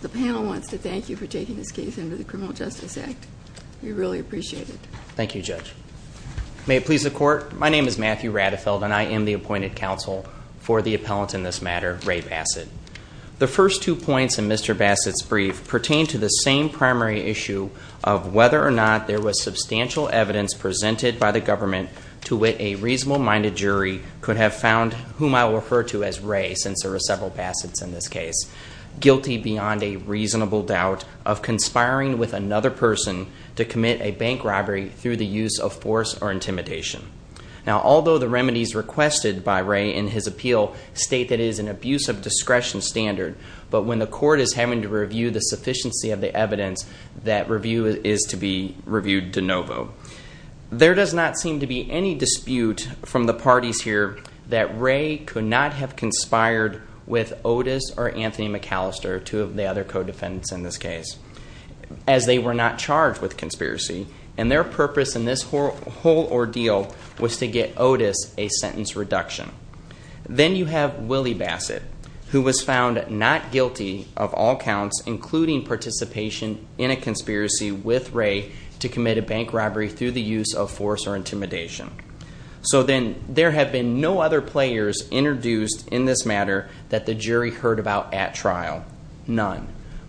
The panel wants to thank you for taking this case under the Criminal Justice Act. We really appreciate it. Thank you, Judge. May it please the Court, my name is Matthew Radefeld and I am the appointed counsel for the appellant in this matter, Ray Bassett. The first two points in Mr. Bassett's brief pertain to the same primary issue of whether or not there was substantial evidence presented by the government to wit a reasonable-minded jury could have found whom I will refer to as Ray, since there were several Bassetts in this case. Guilty beyond a reasonable doubt of conspiring with another person to commit a bank robbery through the use of force or intimidation. Now, although the remedies requested by Ray in his appeal state that it is an abuse of discretion standard, but when the Court is having to review the sufficiency of the evidence, that review is to be reviewed de novo. There does not seem to be any dispute from the parties here that Ray could not have conspired with Otis or Anthony McAllister, two of the other co-defendants in this case, as they were not charged with conspiracy, and their purpose in this whole ordeal was to get Otis a sentence reduction. Then you have Willie Bassett, who was found not guilty of all counts, including participation in a conspiracy with Ray to commit a bank robbery through the use of force or intimidation. So then, there have been no other players introduced in this matter that the jury heard about at trial. None.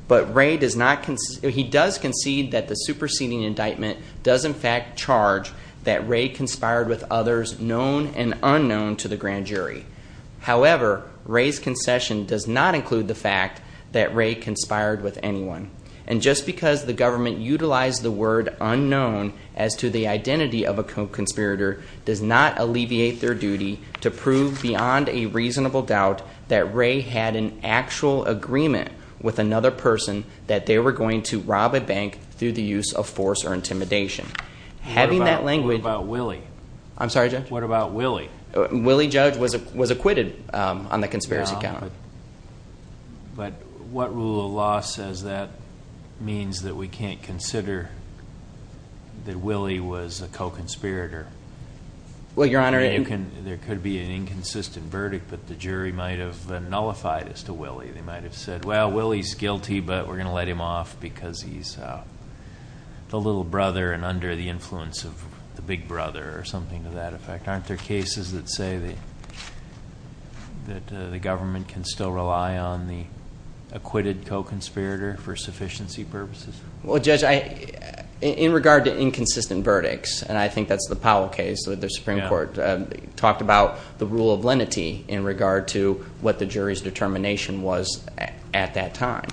But Ray does concede that the superseding indictment does in fact charge that Ray conspired with others known and unknown to the grand jury. However, Ray's concession does not include the fact that Ray conspired with anyone. And just because the government utilized the word unknown as to the identity of a conspirator does not alleviate their duty to prove beyond a reasonable doubt that Ray had an actual agreement with another person that they were going to rob a bank through the use of force or intimidation. Having that language... What about Willie? I'm sorry, Judge? What about Willie? Willie, Judge, was acquitted on the conspiracy count. But what rule of law says that means that we can't consider that Willie was a co-conspirator? Well, Your Honor... There could be an inconsistent verdict, but the jury might have nullified as to Willie. They might have said, well, Willie's guilty, but we're going to let him off because he's the little brother and under the influence of the big brother or something to that effect. Aren't there cases that say that the government can still rely on the acquitted co-conspirator for sufficiency purposes? Well, Judge, in regard to inconsistent verdicts, and I think that's the Powell case, the Supreme Court talked about the rule of lenity in regard to what the jury's determination was at that time.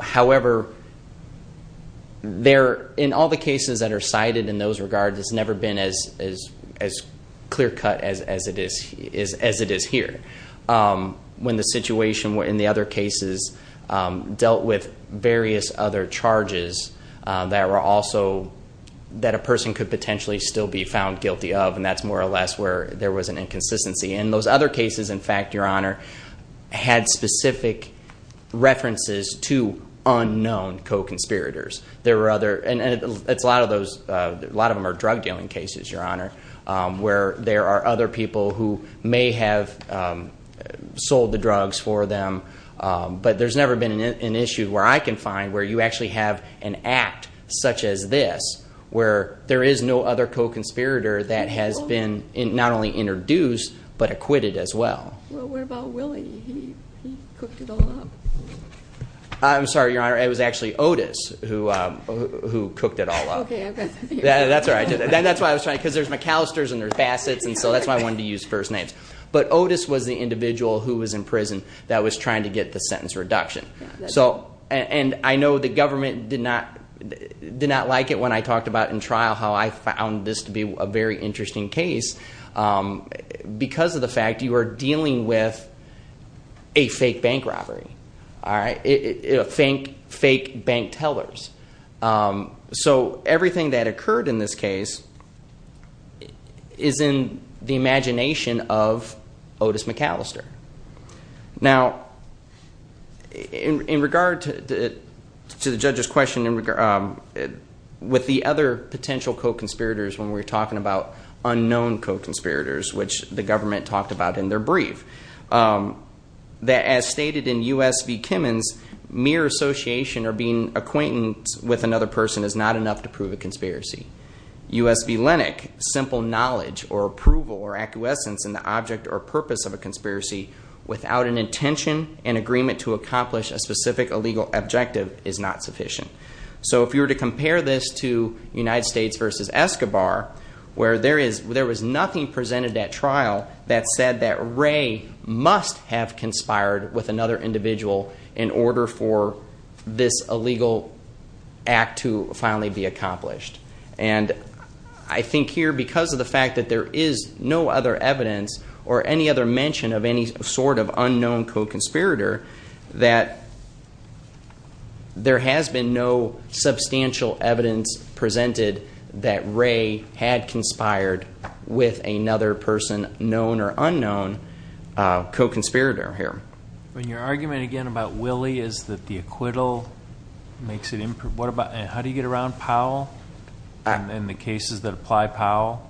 However, in all the cases that are cited in those regards, it's never been as clear cut as it is here. When the situation in the other cases dealt with various other charges that a person could potentially still be found guilty of, and that's more or less where there was an inconsistency. And those other cases, in fact, Your Honor, had specific references to unknown co-conspirators. And a lot of them are drug dealing cases, Your Honor, where there are other people who may have sold the drugs for them. But there's never been an issue where I can find where you actually have an act such as this, where there is no other co-conspirator that has been not only introduced, but acquitted as well. Well, what about Willie? He cooked it all up. I'm sorry, Your Honor. It was actually Otis who cooked it all up. That's why I was trying to, because there's McAllister's and there's Bassett's, and so that's why I wanted to use first names. But Otis was the individual who was in prison that was trying to get the sentence reduction. And I know the government did not like it when I talked about in trial how I found this to be a very interesting case, because of the fact you are dealing with a fake bank robbery, fake bank tellers. So everything that occurred in this case is in the imagination of Otis McAllister. Now, in regard to the judge's question, with the other potential co-conspirators, when we're talking about unknown co-conspirators, which the government talked about in their brief, that as stated in U.S. v. Kimmon's, mere association or being acquaintance with another person is not enough to prove a conspiracy. U.S. v. Lenach, simple knowledge or approval or acquiescence in the object or purpose of a conspiracy without an intention and agreement to accomplish a specific illegal objective is not sufficient. So if you were to compare this to United States v. Escobar, where there was nothing presented at trial that said that Ray must have conspired with another individual in order for this illegal act to finally be accomplished. And I think here, because of the fact that there is no other evidence or any other mention of any sort of unknown co-conspirator, that there has been no substantial evidence presented that Ray had conspired with another person, known or unknown, co-conspirator here. When your argument again about Willie is that the acquittal makes it, how do you get around Powell and the cases that apply Powell?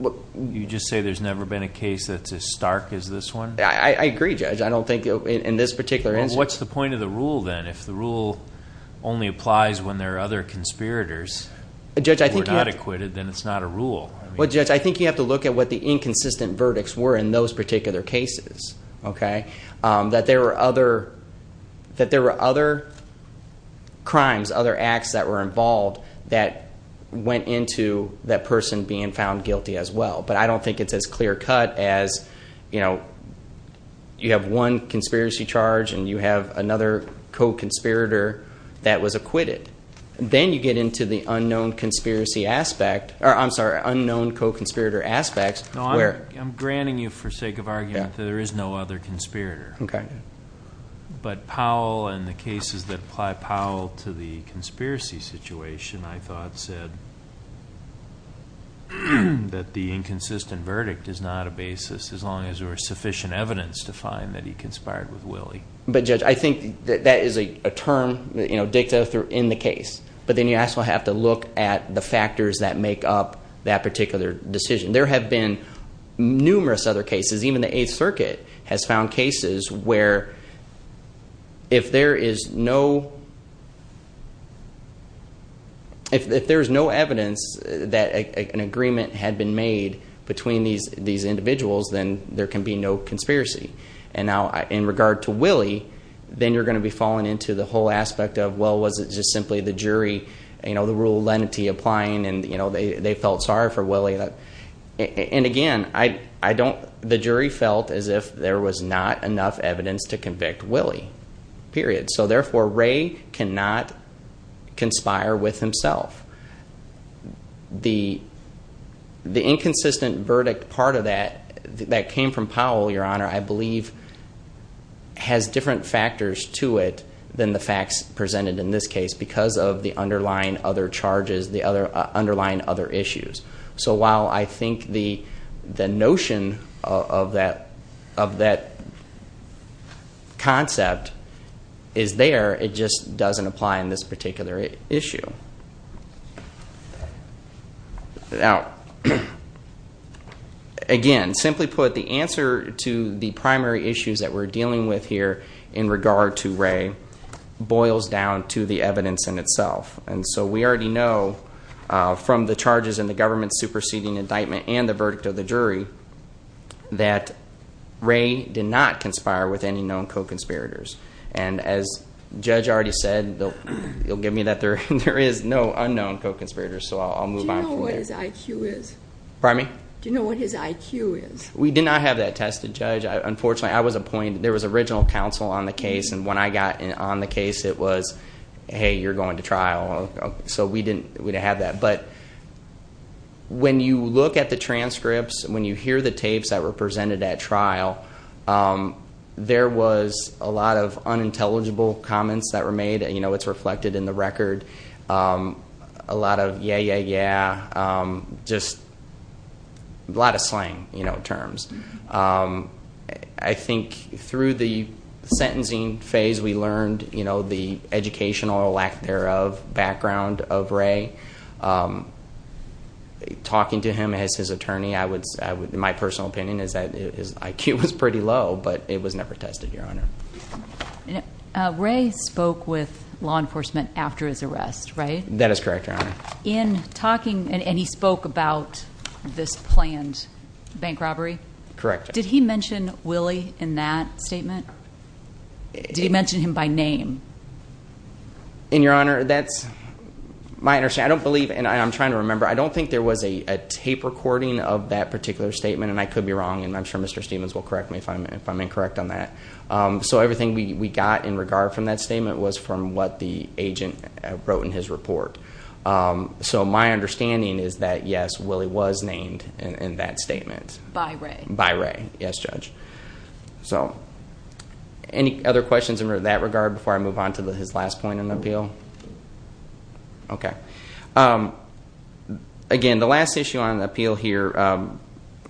You just say there's never been a case that's as stark as this one? I agree, Judge. I don't think in this particular instance. What's the point of the rule then? If the rule only applies when there are other conspirators who are not acquitted, then it's not a rule. Well, Judge, I think you have to look at what the inconsistent verdicts were in those particular cases. That there were other crimes, other acts that were involved that went into that person being found guilty as well. But I don't think it's as clear cut as you have one conspiracy charge and you have another co-conspirator that was acquitted. Then you get into the unknown co-conspirator aspect. I'm granting you for sake of argument that there is no other conspirator. But Powell and the cases that apply Powell to the conspiracy situation, I thought said that the inconsistent verdict is not a basis, as long as there was sufficient evidence to find that he conspired with Willie. But Judge, I think that is a term dicta in the case. But then you also have to look at the factors that make up that particular decision. There have been numerous other cases. Even the Eighth Circuit has found cases where if there is no evidence that an agreement had been made between these individuals, then there can be no conspiracy. And now in regard to Willie, then you're going to be falling into the whole aspect of, well, was it just simply the jury, the rule of lenity applying and they felt sorry for Willie. And again, the jury felt as if there was not enough evidence to convict Willie, period. So therefore, Ray cannot conspire with himself. The inconsistent verdict part of that that came from Powell, Your Honor, I believe has different factors to it than the facts presented in this case because of the underlying other charges, the underlying other issues. So while I think the notion of that concept is there, it just doesn't apply in this particular issue. Now, again, simply put, the answer to the primary issues that we're dealing with here in regard to Ray boils down to the evidence in itself. And so we already know from the charges in the government superseding indictment and the verdict of the jury that Ray did not conspire with any known co-conspirators. And as Judge already said, he'll give me that there is no unknown co-conspirators, so I'll move on from there. Do you know what his IQ is? Pardon me? Do you know what his IQ is? We did not have that tested, Judge. Unfortunately, I was appointed. There was original counsel on the case, and when I got on the case, it was, hey, you're going to trial. So we didn't have that. But when you look at the transcripts, when you hear the tapes that were presented at trial, there was a lot of unintelligible comments that were made. It's reflected in the record, a lot of yeah, yeah, yeah, just a lot of slang terms. I think through the sentencing phase, we learned the educational lack thereof background of Ray. Talking to him as his attorney, my personal opinion is that his IQ was pretty low, but it was never tested, Your Honor. Ray spoke with law enforcement after his arrest, right? That is correct, Your Honor. In talking, and he spoke about this planned bank robbery? Correct. Did he mention Willie in that statement? Did he mention him by name? And, Your Honor, that's my understanding. I don't believe, and I'm trying to remember, I don't think there was a tape recording of that particular statement, and I could be wrong, and I'm sure Mr. Stevens will correct me if I'm incorrect on that. So everything we got in regard from that statement was from what the agent wrote in his report. So my understanding is that, yes, Willie was named in that statement. By Ray. By Ray, yes, Judge. So any other questions in that regard before I move on to his last point in the appeal? Okay. Again, the last issue on the appeal here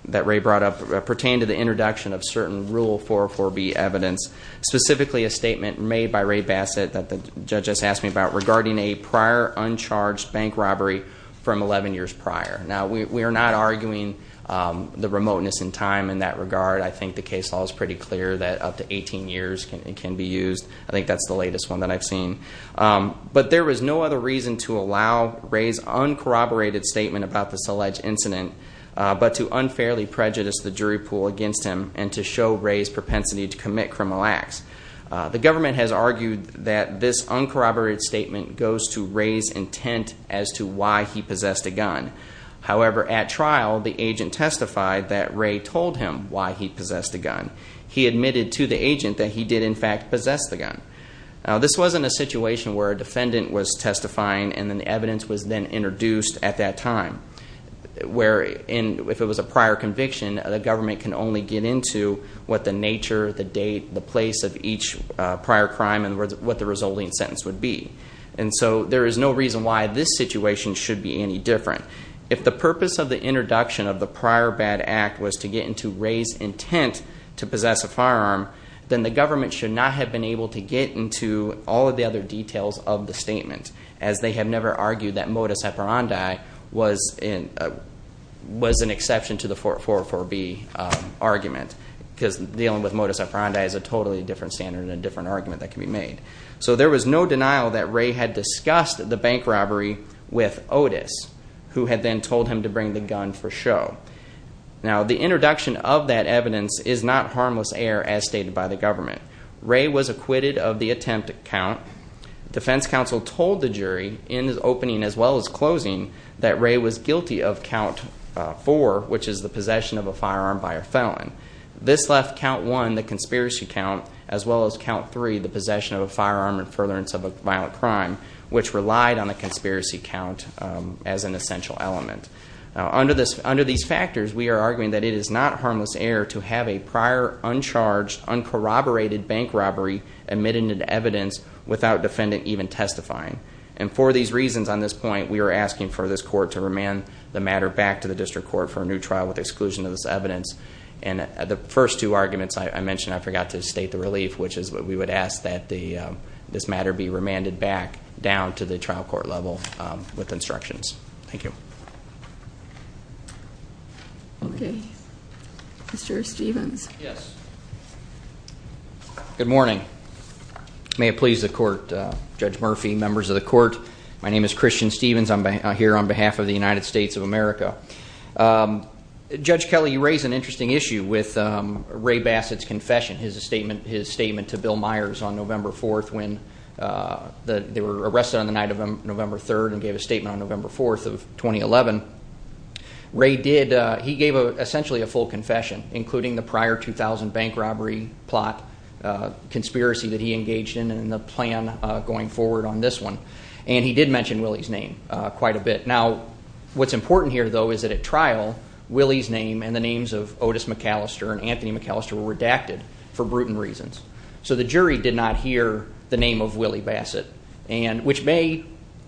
that Ray brought up pertained to the introduction of certain Rule 404B evidence, specifically a statement made by Ray Bassett that the judge has asked me about regarding a prior uncharged bank robbery from 11 years prior. Now, we are not arguing the remoteness in time in that regard. I think the case law is pretty clear that up to 18 years can be used. I think that's the latest one that I've seen. But there was no other reason to allow Ray's uncorroborated statement about this alleged incident but to unfairly prejudice the jury pool against him and to show Ray's propensity to commit criminal acts. The government has argued that this uncorroborated statement goes to Ray's intent as to why he possessed a gun. However, at trial, the agent testified that Ray told him why he possessed a gun. He admitted to the agent that he did, in fact, possess the gun. Now, this wasn't a situation where a defendant was testifying and then the evidence was then introduced at that time, where if it was a prior conviction, the government can only get into what the nature, the date, the place of each prior crime and what the resulting sentence would be. And so there is no reason why this situation should be any different. If the purpose of the introduction of the prior bad act was to get into Ray's intent to possess a firearm, then the government should not have been able to get into all of the other details of the statement, as they have never argued that modus operandi was an exception to the 404B argument, because dealing with modus operandi is a totally different standard and a different argument that can be made. So there was no denial that Ray had discussed the bank robbery with Otis, who had then told him to bring the gun for show. Now, the introduction of that evidence is not harmless error as stated by the government. Ray was acquitted of the attempt at count. Defense counsel told the jury in the opening as well as closing that Ray was guilty of count four, which is the possession of a firearm by a felon. This left count one, the conspiracy count, as well as count three, the possession of a firearm and furtherance of a violent crime, which relied on the conspiracy count as an essential element. Now, under these factors, we are arguing that it is not harmless error to have a prior, uncharged, uncorroborated bank robbery admitted into evidence without defendant even testifying. And for these reasons on this point, we are asking for this court to remand the matter back to the district court for a new trial with exclusion of this evidence. And the first two arguments I mentioned, I forgot to state the relief, which is we would ask that this matter be remanded back down to the trial court level with instructions. Thank you. Okay. Mr. Stevens. Yes. Good morning. May it please the court. Judge Murphy, members of the court, my name is Christian Stevens. I'm here on behalf of the United States of America. Judge Kelly, you raise an interesting issue with Ray Bassett's confession, his statement to Bill Myers on November 4th when they were arrested on the night of November 3rd and gave a statement on November 4th of 2011. Ray did, he gave essentially a full confession, including the prior 2,000 bank robbery plot conspiracy that he engaged in and the plan going forward on this one. And he did mention Willie's name quite a bit. Now, what's important here, though, is that at trial, Willie's name and the names of Otis McAllister and Anthony McAllister were redacted for brutal reasons. So the jury did not hear the name of Willie Bassett, which may,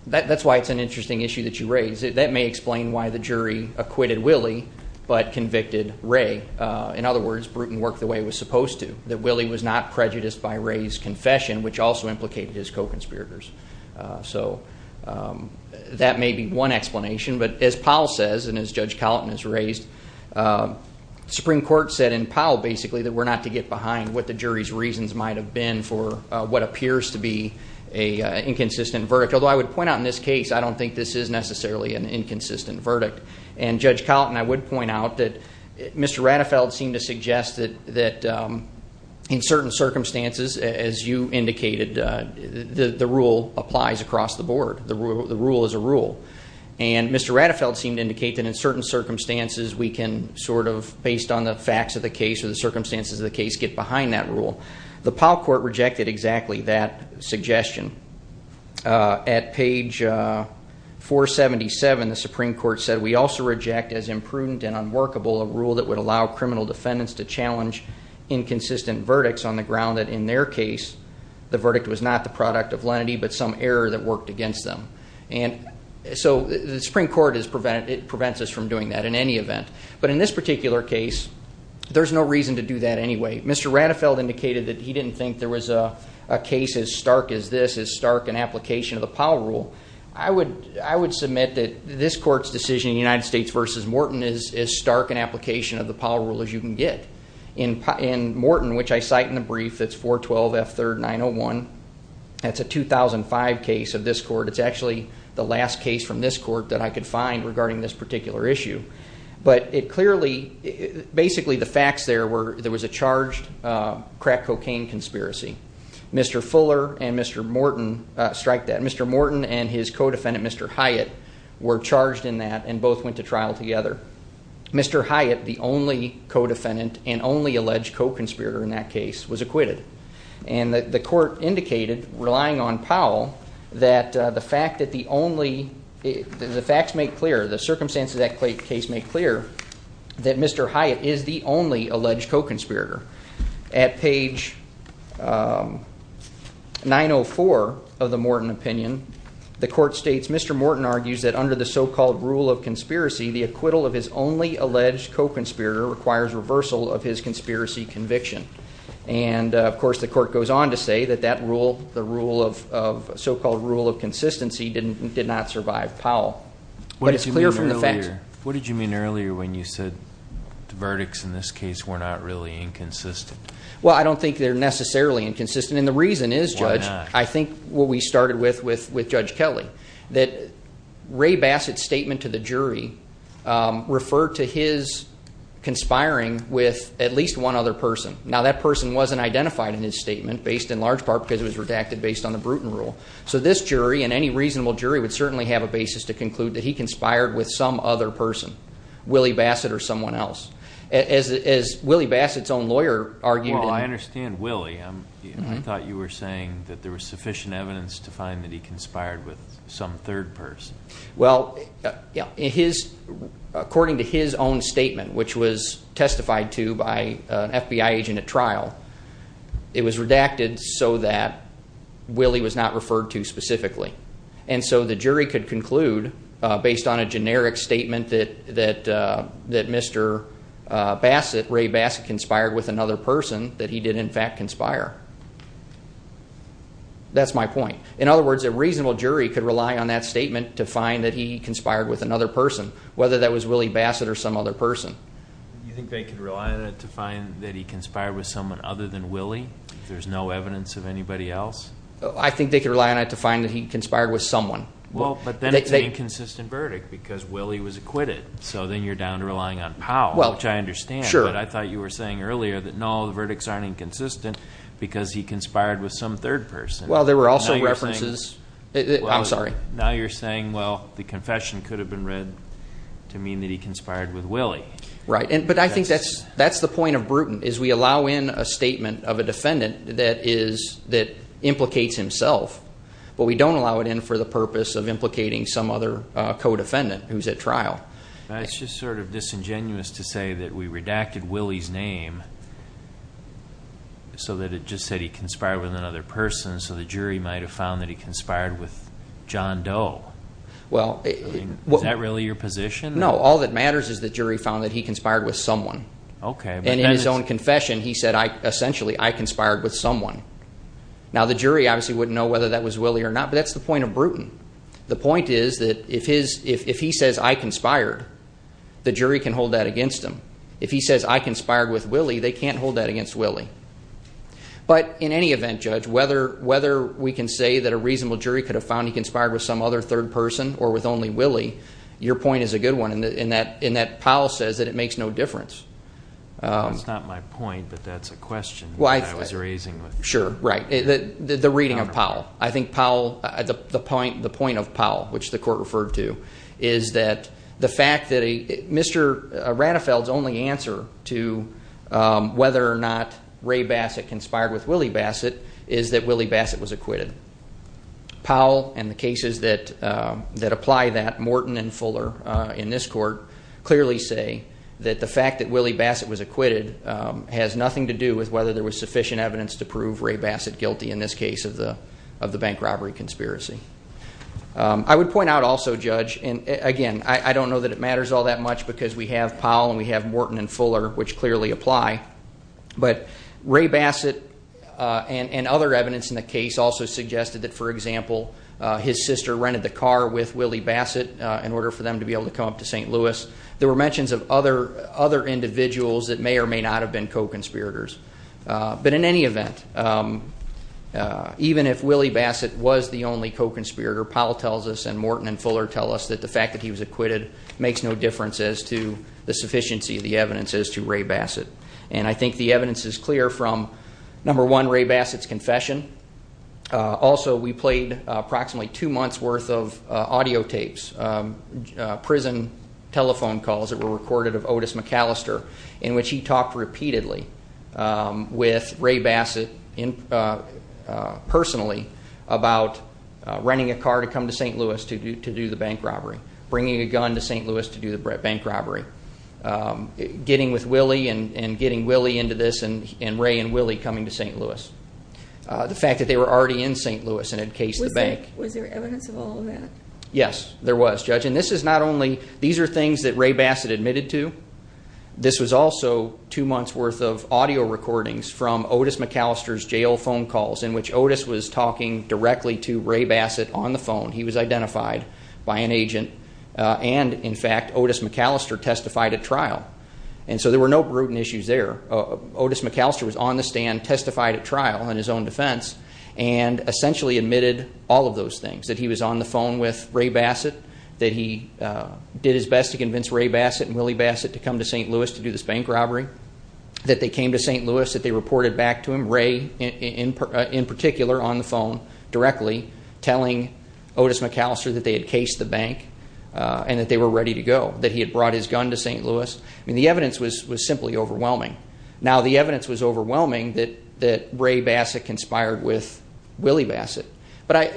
that's why it's an interesting issue that you raise. That may explain why the jury acquitted Willie but convicted Ray. In other words, Bruton worked the way it was supposed to, that Willie was not prejudiced by Ray's confession, which also implicated his co-conspirators. So that may be one explanation. But as Powell says and as Judge Colleton has raised, the Supreme Court said in Powell basically that we're not to get behind what the jury's reasons might have been for what appears to be an inconsistent verdict. Although I would point out in this case, I don't think this is necessarily an inconsistent verdict. And Judge Colleton, I would point out that Mr. Ratafeld seemed to suggest that in certain circumstances, as you indicated, the rule applies across the board. The rule is a rule. And Mr. Ratafeld seemed to indicate that in certain circumstances, we can sort of, based on the facts of the case or the circumstances of the case, get behind that rule. The Powell Court rejected exactly that suggestion. At page 477, the Supreme Court said, we also reject as imprudent and unworkable a rule that would allow criminal defendants to challenge inconsistent verdicts on the ground that in their case, the verdict was not the product of lenity but some error that worked against them. And so the Supreme Court prevents us from doing that in any event. But in this particular case, there's no reason to do that anyway. Mr. Ratafeld indicated that he didn't think there was a case as stark as this, as stark an application of the Powell Rule. I would submit that this Court's decision in the United States v. Morton is as stark an application of the Powell Rule as you can get. In Morton, which I cite in the brief, it's 412F3901. That's a 2005 case of this Court. It's actually the last case from this Court that I could find regarding this particular issue. But it clearly, basically the facts there were there was a charged crack cocaine conspiracy. Mr. Fuller and Mr. Morton strike that. Mr. Morton and his co-defendant, Mr. Hyatt, were charged in that and both went to trial together. Mr. Hyatt, the only co-defendant and only alleged co-conspirator in that case, was acquitted. And the Court indicated, relying on Powell, that the fact that the only, the facts make clear, the circumstances of that case make clear, that Mr. Hyatt is the only alleged co-conspirator. At page 904 of the Morton opinion, the Court states, Mr. Morton argues that under the so-called Rule of Conspiracy, the acquittal of his only alleged co-conspirator requires reversal of his conspiracy conviction. And, of course, the Court goes on to say that that rule, the so-called Rule of Consistency, did not survive Powell. But it's clear from the facts. What did you mean earlier when you said the verdicts in this case were not really inconsistent? Well, I don't think they're necessarily inconsistent. And the reason is, Judge, I think what we started with Judge Kelly, that Ray Bassett's statement to the jury referred to his conspiring with at least one other person. Now, that person wasn't identified in his statement, based in large part because it was redacted based on the Bruton Rule. So this jury, and any reasonable jury, would certainly have a basis to conclude that he conspired with some other person, Willie Bassett or someone else. As Willie Bassett's own lawyer argued in- Well, I understand Willie. I thought you were saying that there was sufficient evidence to find that he conspired with some third person. Well, according to his own statement, which was testified to by an FBI agent at trial, it was redacted so that Willie was not referred to specifically. And so the jury could conclude, based on a generic statement that Mr. Bassett, Ray Bassett, conspired with another person, that he did in fact conspire. That's my point. In other words, a reasonable jury could rely on that statement to find that he conspired with another person, whether that was Willie Bassett or some other person. You think they could rely on it to find that he conspired with someone other than Willie if there's no evidence of anybody else? I think they could rely on it to find that he conspired with someone. Well, but then it's an inconsistent verdict because Willie was acquitted. So then you're down to relying on Powell, which I understand. But I thought you were saying earlier that, no, the verdicts aren't inconsistent because he conspired with some third person. Well, there were also references. I'm sorry. Now you're saying, well, the confession could have been read to mean that he conspired with Willie. Right. But I think that's the point of Bruton is we allow in a statement of a defendant that implicates himself, but we don't allow it in for the purpose of implicating some other co-defendant who's at trial. It's just sort of disingenuous to say that we redacted Willie's name so that it just said he conspired with another person so the jury might have found that he conspired with John Doe. Is that really your position? No. All that matters is the jury found that he conspired with someone. Okay. And in his own confession, he said, essentially, I conspired with someone. Now the jury obviously wouldn't know whether that was Willie or not, but that's the point of Bruton. The point is that if he says, I conspired, the jury can hold that against him. If he says, I conspired with Willie, they can't hold that against Willie. But in any event, Judge, whether we can say that a reasonable jury could have found he conspired with some other third person or with only Willie, your point is a good one in that Powell says that it makes no difference. That's not my point, but that's a question that I was raising. Sure. Right. The reading of Powell. The point of Powell, which the court referred to, is that the fact that Mr. Ratafeld's only answer to whether or not Ray Bassett conspired with Willie Bassett is that Willie Bassett was acquitted. Powell and the cases that apply that, Morton and Fuller in this court, clearly say that the fact that Willie Bassett was acquitted has nothing to do with whether there was sufficient evidence to prove Ray Bassett guilty in this case of the bank robbery conspiracy. I would point out also, Judge, and again, I don't know that it matters all that much because we have Powell and we have Morton and Fuller, which clearly apply, but Ray Bassett and other evidence in the case also suggested that, for example, his sister rented the car with Willie Bassett in order for them to be able to come up to St. Louis. There were mentions of other individuals that may or may not have been co-conspirators. But in any event, even if Willie Bassett was the only co-conspirator, Powell tells us and Morton and Fuller tell us that the fact that he was acquitted makes no difference as to the sufficiency of the evidence as to Ray Bassett. And I think the evidence is clear from, number one, Ray Bassett's confession. Also, we played approximately two months' worth of audio tapes, prison telephone calls that were recorded of Otis McAllister, in which he talked repeatedly with Ray Bassett personally about renting a car to come to St. Louis to do the bank robbery, bringing a gun to St. Louis to do the bank robbery, getting with Willie and getting Willie into this and Ray and Willie coming to St. Louis. The fact that they were already in St. Louis and had cased the bank. Was there evidence of all of that? Yes, there was, Judge. These are things that Ray Bassett admitted to. This was also two months' worth of audio recordings from Otis McAllister's jail phone calls, in which Otis was talking directly to Ray Bassett on the phone. He was identified by an agent. And, in fact, Otis McAllister testified at trial. And so there were no brutal issues there. Otis McAllister was on the stand, testified at trial in his own defense, and essentially admitted all of those things, that he was on the phone with Ray Bassett, that he did his best to convince Ray Bassett and Willie Bassett to come to St. Louis to do this bank robbery, that they came to St. Louis, that they reported back to him, Ray in particular on the phone directly, telling Otis McAllister that they had cased the bank and that they were ready to go, that he had brought his gun to St. Louis. The evidence was simply overwhelming. Now, the evidence was overwhelming that Ray Bassett conspired with Willie Bassett. But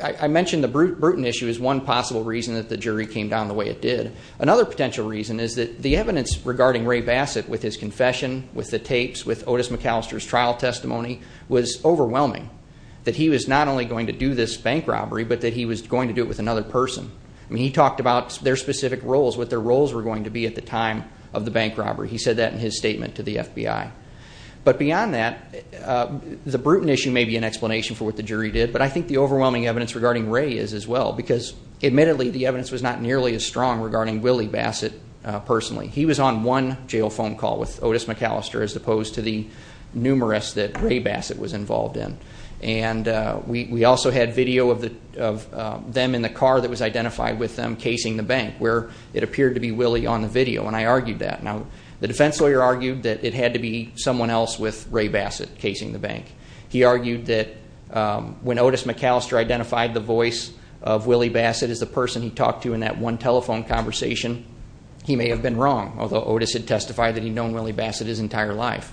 I mentioned the brutal issue as one possible reason that the jury came down the way it did. Another potential reason is that the evidence regarding Ray Bassett with his confession, with the tapes, with Otis McAllister's trial testimony was overwhelming, that he was not only going to do this bank robbery, but that he was going to do it with another person. I mean, he talked about their specific roles, what their roles were going to be at the time of the bank robbery. He said that in his statement to the FBI. But beyond that, the brutal issue may be an explanation for what the jury did, but I think the overwhelming evidence regarding Ray is as well, because admittedly the evidence was not nearly as strong regarding Willie Bassett personally. He was on one jail phone call with Otis McAllister as opposed to the numerous that Ray Bassett was involved in. And we also had video of them in the car that was identified with them casing the bank, where it appeared to be Willie on the video, and I argued that. Now, the defense lawyer argued that it had to be someone else with Ray Bassett casing the bank. He argued that when Otis McAllister identified the voice of Willie Bassett as the person he talked to in that one telephone conversation, he may have been wrong, although Otis had testified that he'd known Willie Bassett his entire life.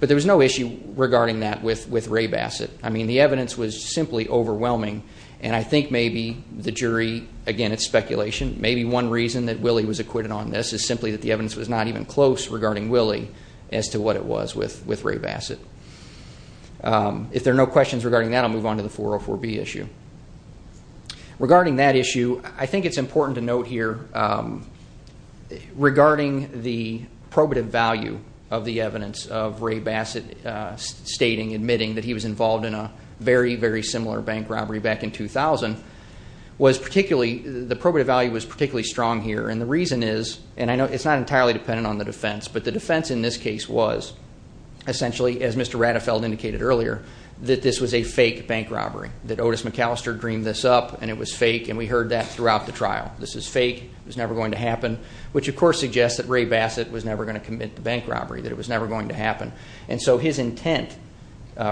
But there was no issue regarding that with Ray Bassett. I mean, the evidence was simply overwhelming, and I think maybe the jury, again, it's speculation, maybe one reason that Willie was acquitted on this is simply that the evidence was not even close regarding Willie as to what it was with Ray Bassett. If there are no questions regarding that, I'll move on to the 404B issue. Regarding that issue, I think it's important to note here, regarding the probative value of the evidence of Ray Bassett stating, admitting that he was involved in a very, very similar bank robbery back in 2000, was particularly, the probative value was particularly strong here, and the reason is, and I know it's not entirely dependent on the defense, but the defense in this case was essentially, as Mr. Rattefeld indicated earlier, that this was a fake bank robbery, that Otis McAllister dreamed this up and it was fake, and we heard that throughout the trial. This is fake, it was never going to happen, which, of course, suggests that Ray Bassett was never going to commit the bank robbery, that it was never going to happen. And so his intent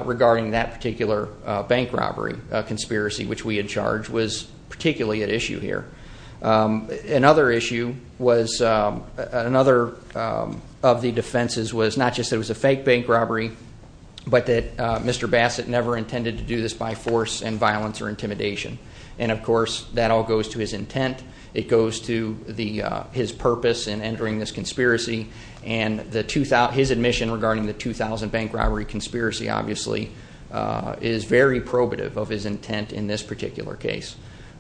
regarding that particular bank robbery conspiracy, which we had charged, was particularly at issue here. Another issue was, another of the defenses was not just that it was a fake bank robbery, but that Mr. Bassett never intended to do this by force and violence or intimidation. And, of course, that all goes to his intent, it goes to his purpose in entering this conspiracy, and his admission regarding the 2000 bank robbery conspiracy, obviously, is very probative of his intent in this particular case.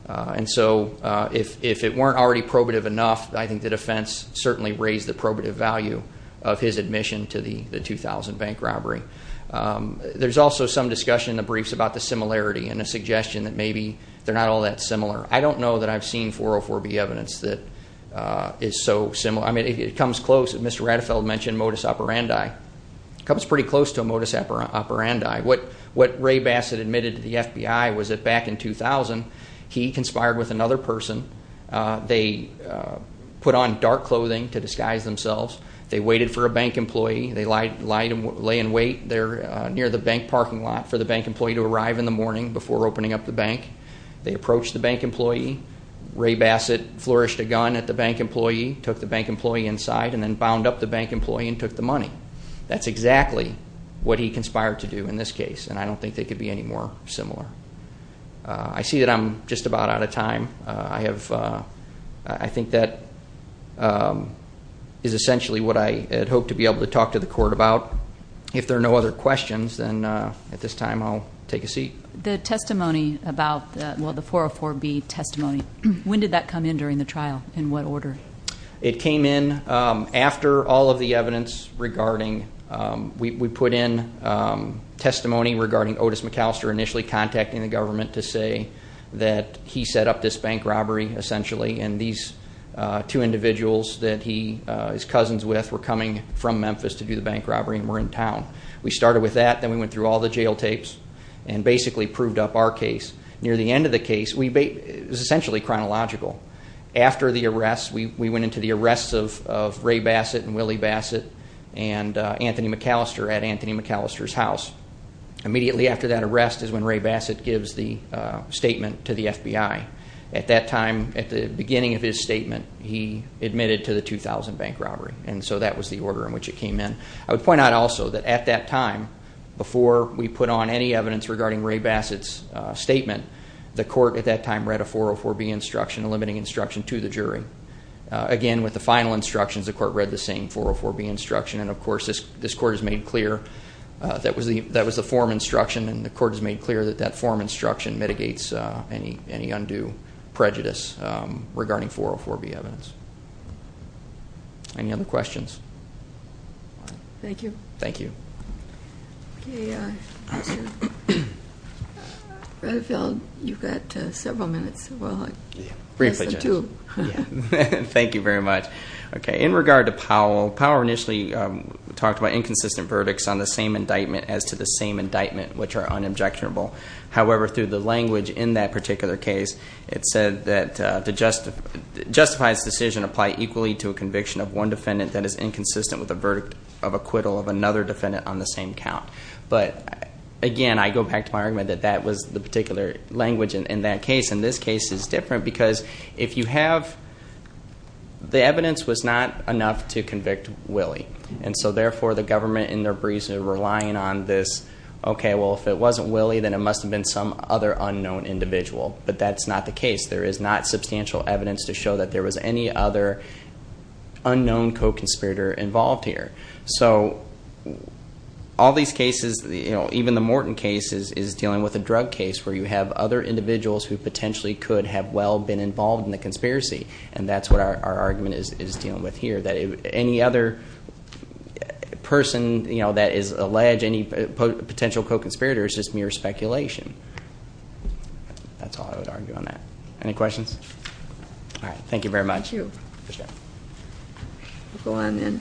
And so if it weren't already probative enough, I think the defense certainly raised the probative value of his admission to the 2000 bank robbery. There's also some discussion in the briefs about the similarity and a suggestion that maybe they're not all that similar. I don't know that I've seen 404B evidence that is so similar. I mean, it comes close. Mr. Rattefeld mentioned modus operandi. It comes pretty close to a modus operandi. What Ray Bassett admitted to the FBI was that back in 2000, he conspired with another person. They put on dark clothing to disguise themselves. They waited for a bank employee. They lay in wait near the bank parking lot for the bank employee to arrive in the morning before opening up the bank. They approached the bank employee. Ray Bassett flourished a gun at the bank employee, took the bank employee inside, and then bound up the bank employee and took the money. That's exactly what he conspired to do in this case, and I don't think they could be any more similar. I see that I'm just about out of time. I think that is essentially what I had hoped to be able to talk to the court about. If there are no other questions, then at this time I'll take a seat. The testimony about the 404B testimony, when did that come in during the trial? In what order? It came in after all of the evidence regarding we put in testimony regarding Otis McAllister initially contacting the government to say that he set up this bank robbery, essentially, and these two individuals that he is cousins with were coming from Memphis to do the bank robbery and were in town. We started with that, then we went through all the jail tapes and basically proved up our case. Near the end of the case, it was essentially chronological. After the arrest, we went into the arrests of Ray Bassett and Willie Bassett and Anthony McAllister at Anthony McAllister's house. Immediately after that arrest is when Ray Bassett gives the statement to the FBI. At that time, at the beginning of his statement, he admitted to the 2000 bank robbery, and so that was the order in which it came in. I would point out also that at that time, before we put on any evidence regarding Ray Bassett's statement, the court at that time read a 404B instruction, a limiting instruction, to the jury. Again, with the final instructions, the court read the same 404B instruction, and of course this court has made clear that was the forum instruction, and the court has made clear that that forum instruction mitigates any undue prejudice regarding 404B evidence. Any other questions? Thank you. Thank you. Okay, Mr. Redfield, you've got several minutes. Briefly, Judge. Less than two. Thank you very much. Okay, in regard to Powell, Powell initially talked about inconsistent verdicts on the same indictment as to the same indictment, which are unobjectionable. However, through the language in that particular case, it said that to justify this decision, apply equally to a conviction of one defendant that is inconsistent with the verdict of acquittal of another defendant on the same count. But, again, I go back to my argument that that was the particular language in that case, and this case is different because if you have the evidence was not enough to convict Willie, and so therefore the government in their breezes are relying on this, okay, well, if it wasn't Willie, then it must have been some other unknown individual. But that's not the case. There is not substantial evidence to show that there was any other unknown co-conspirator involved here. So all these cases, even the Morton case is dealing with a drug case where you have other individuals who potentially could have well been involved in the conspiracy, and that's what our argument is dealing with here, that any other person that is alleged, any potential co-conspirator is just mere speculation. That's all I would argue on that. Any questions? All right. Thank you very much. Thank you. Appreciate it.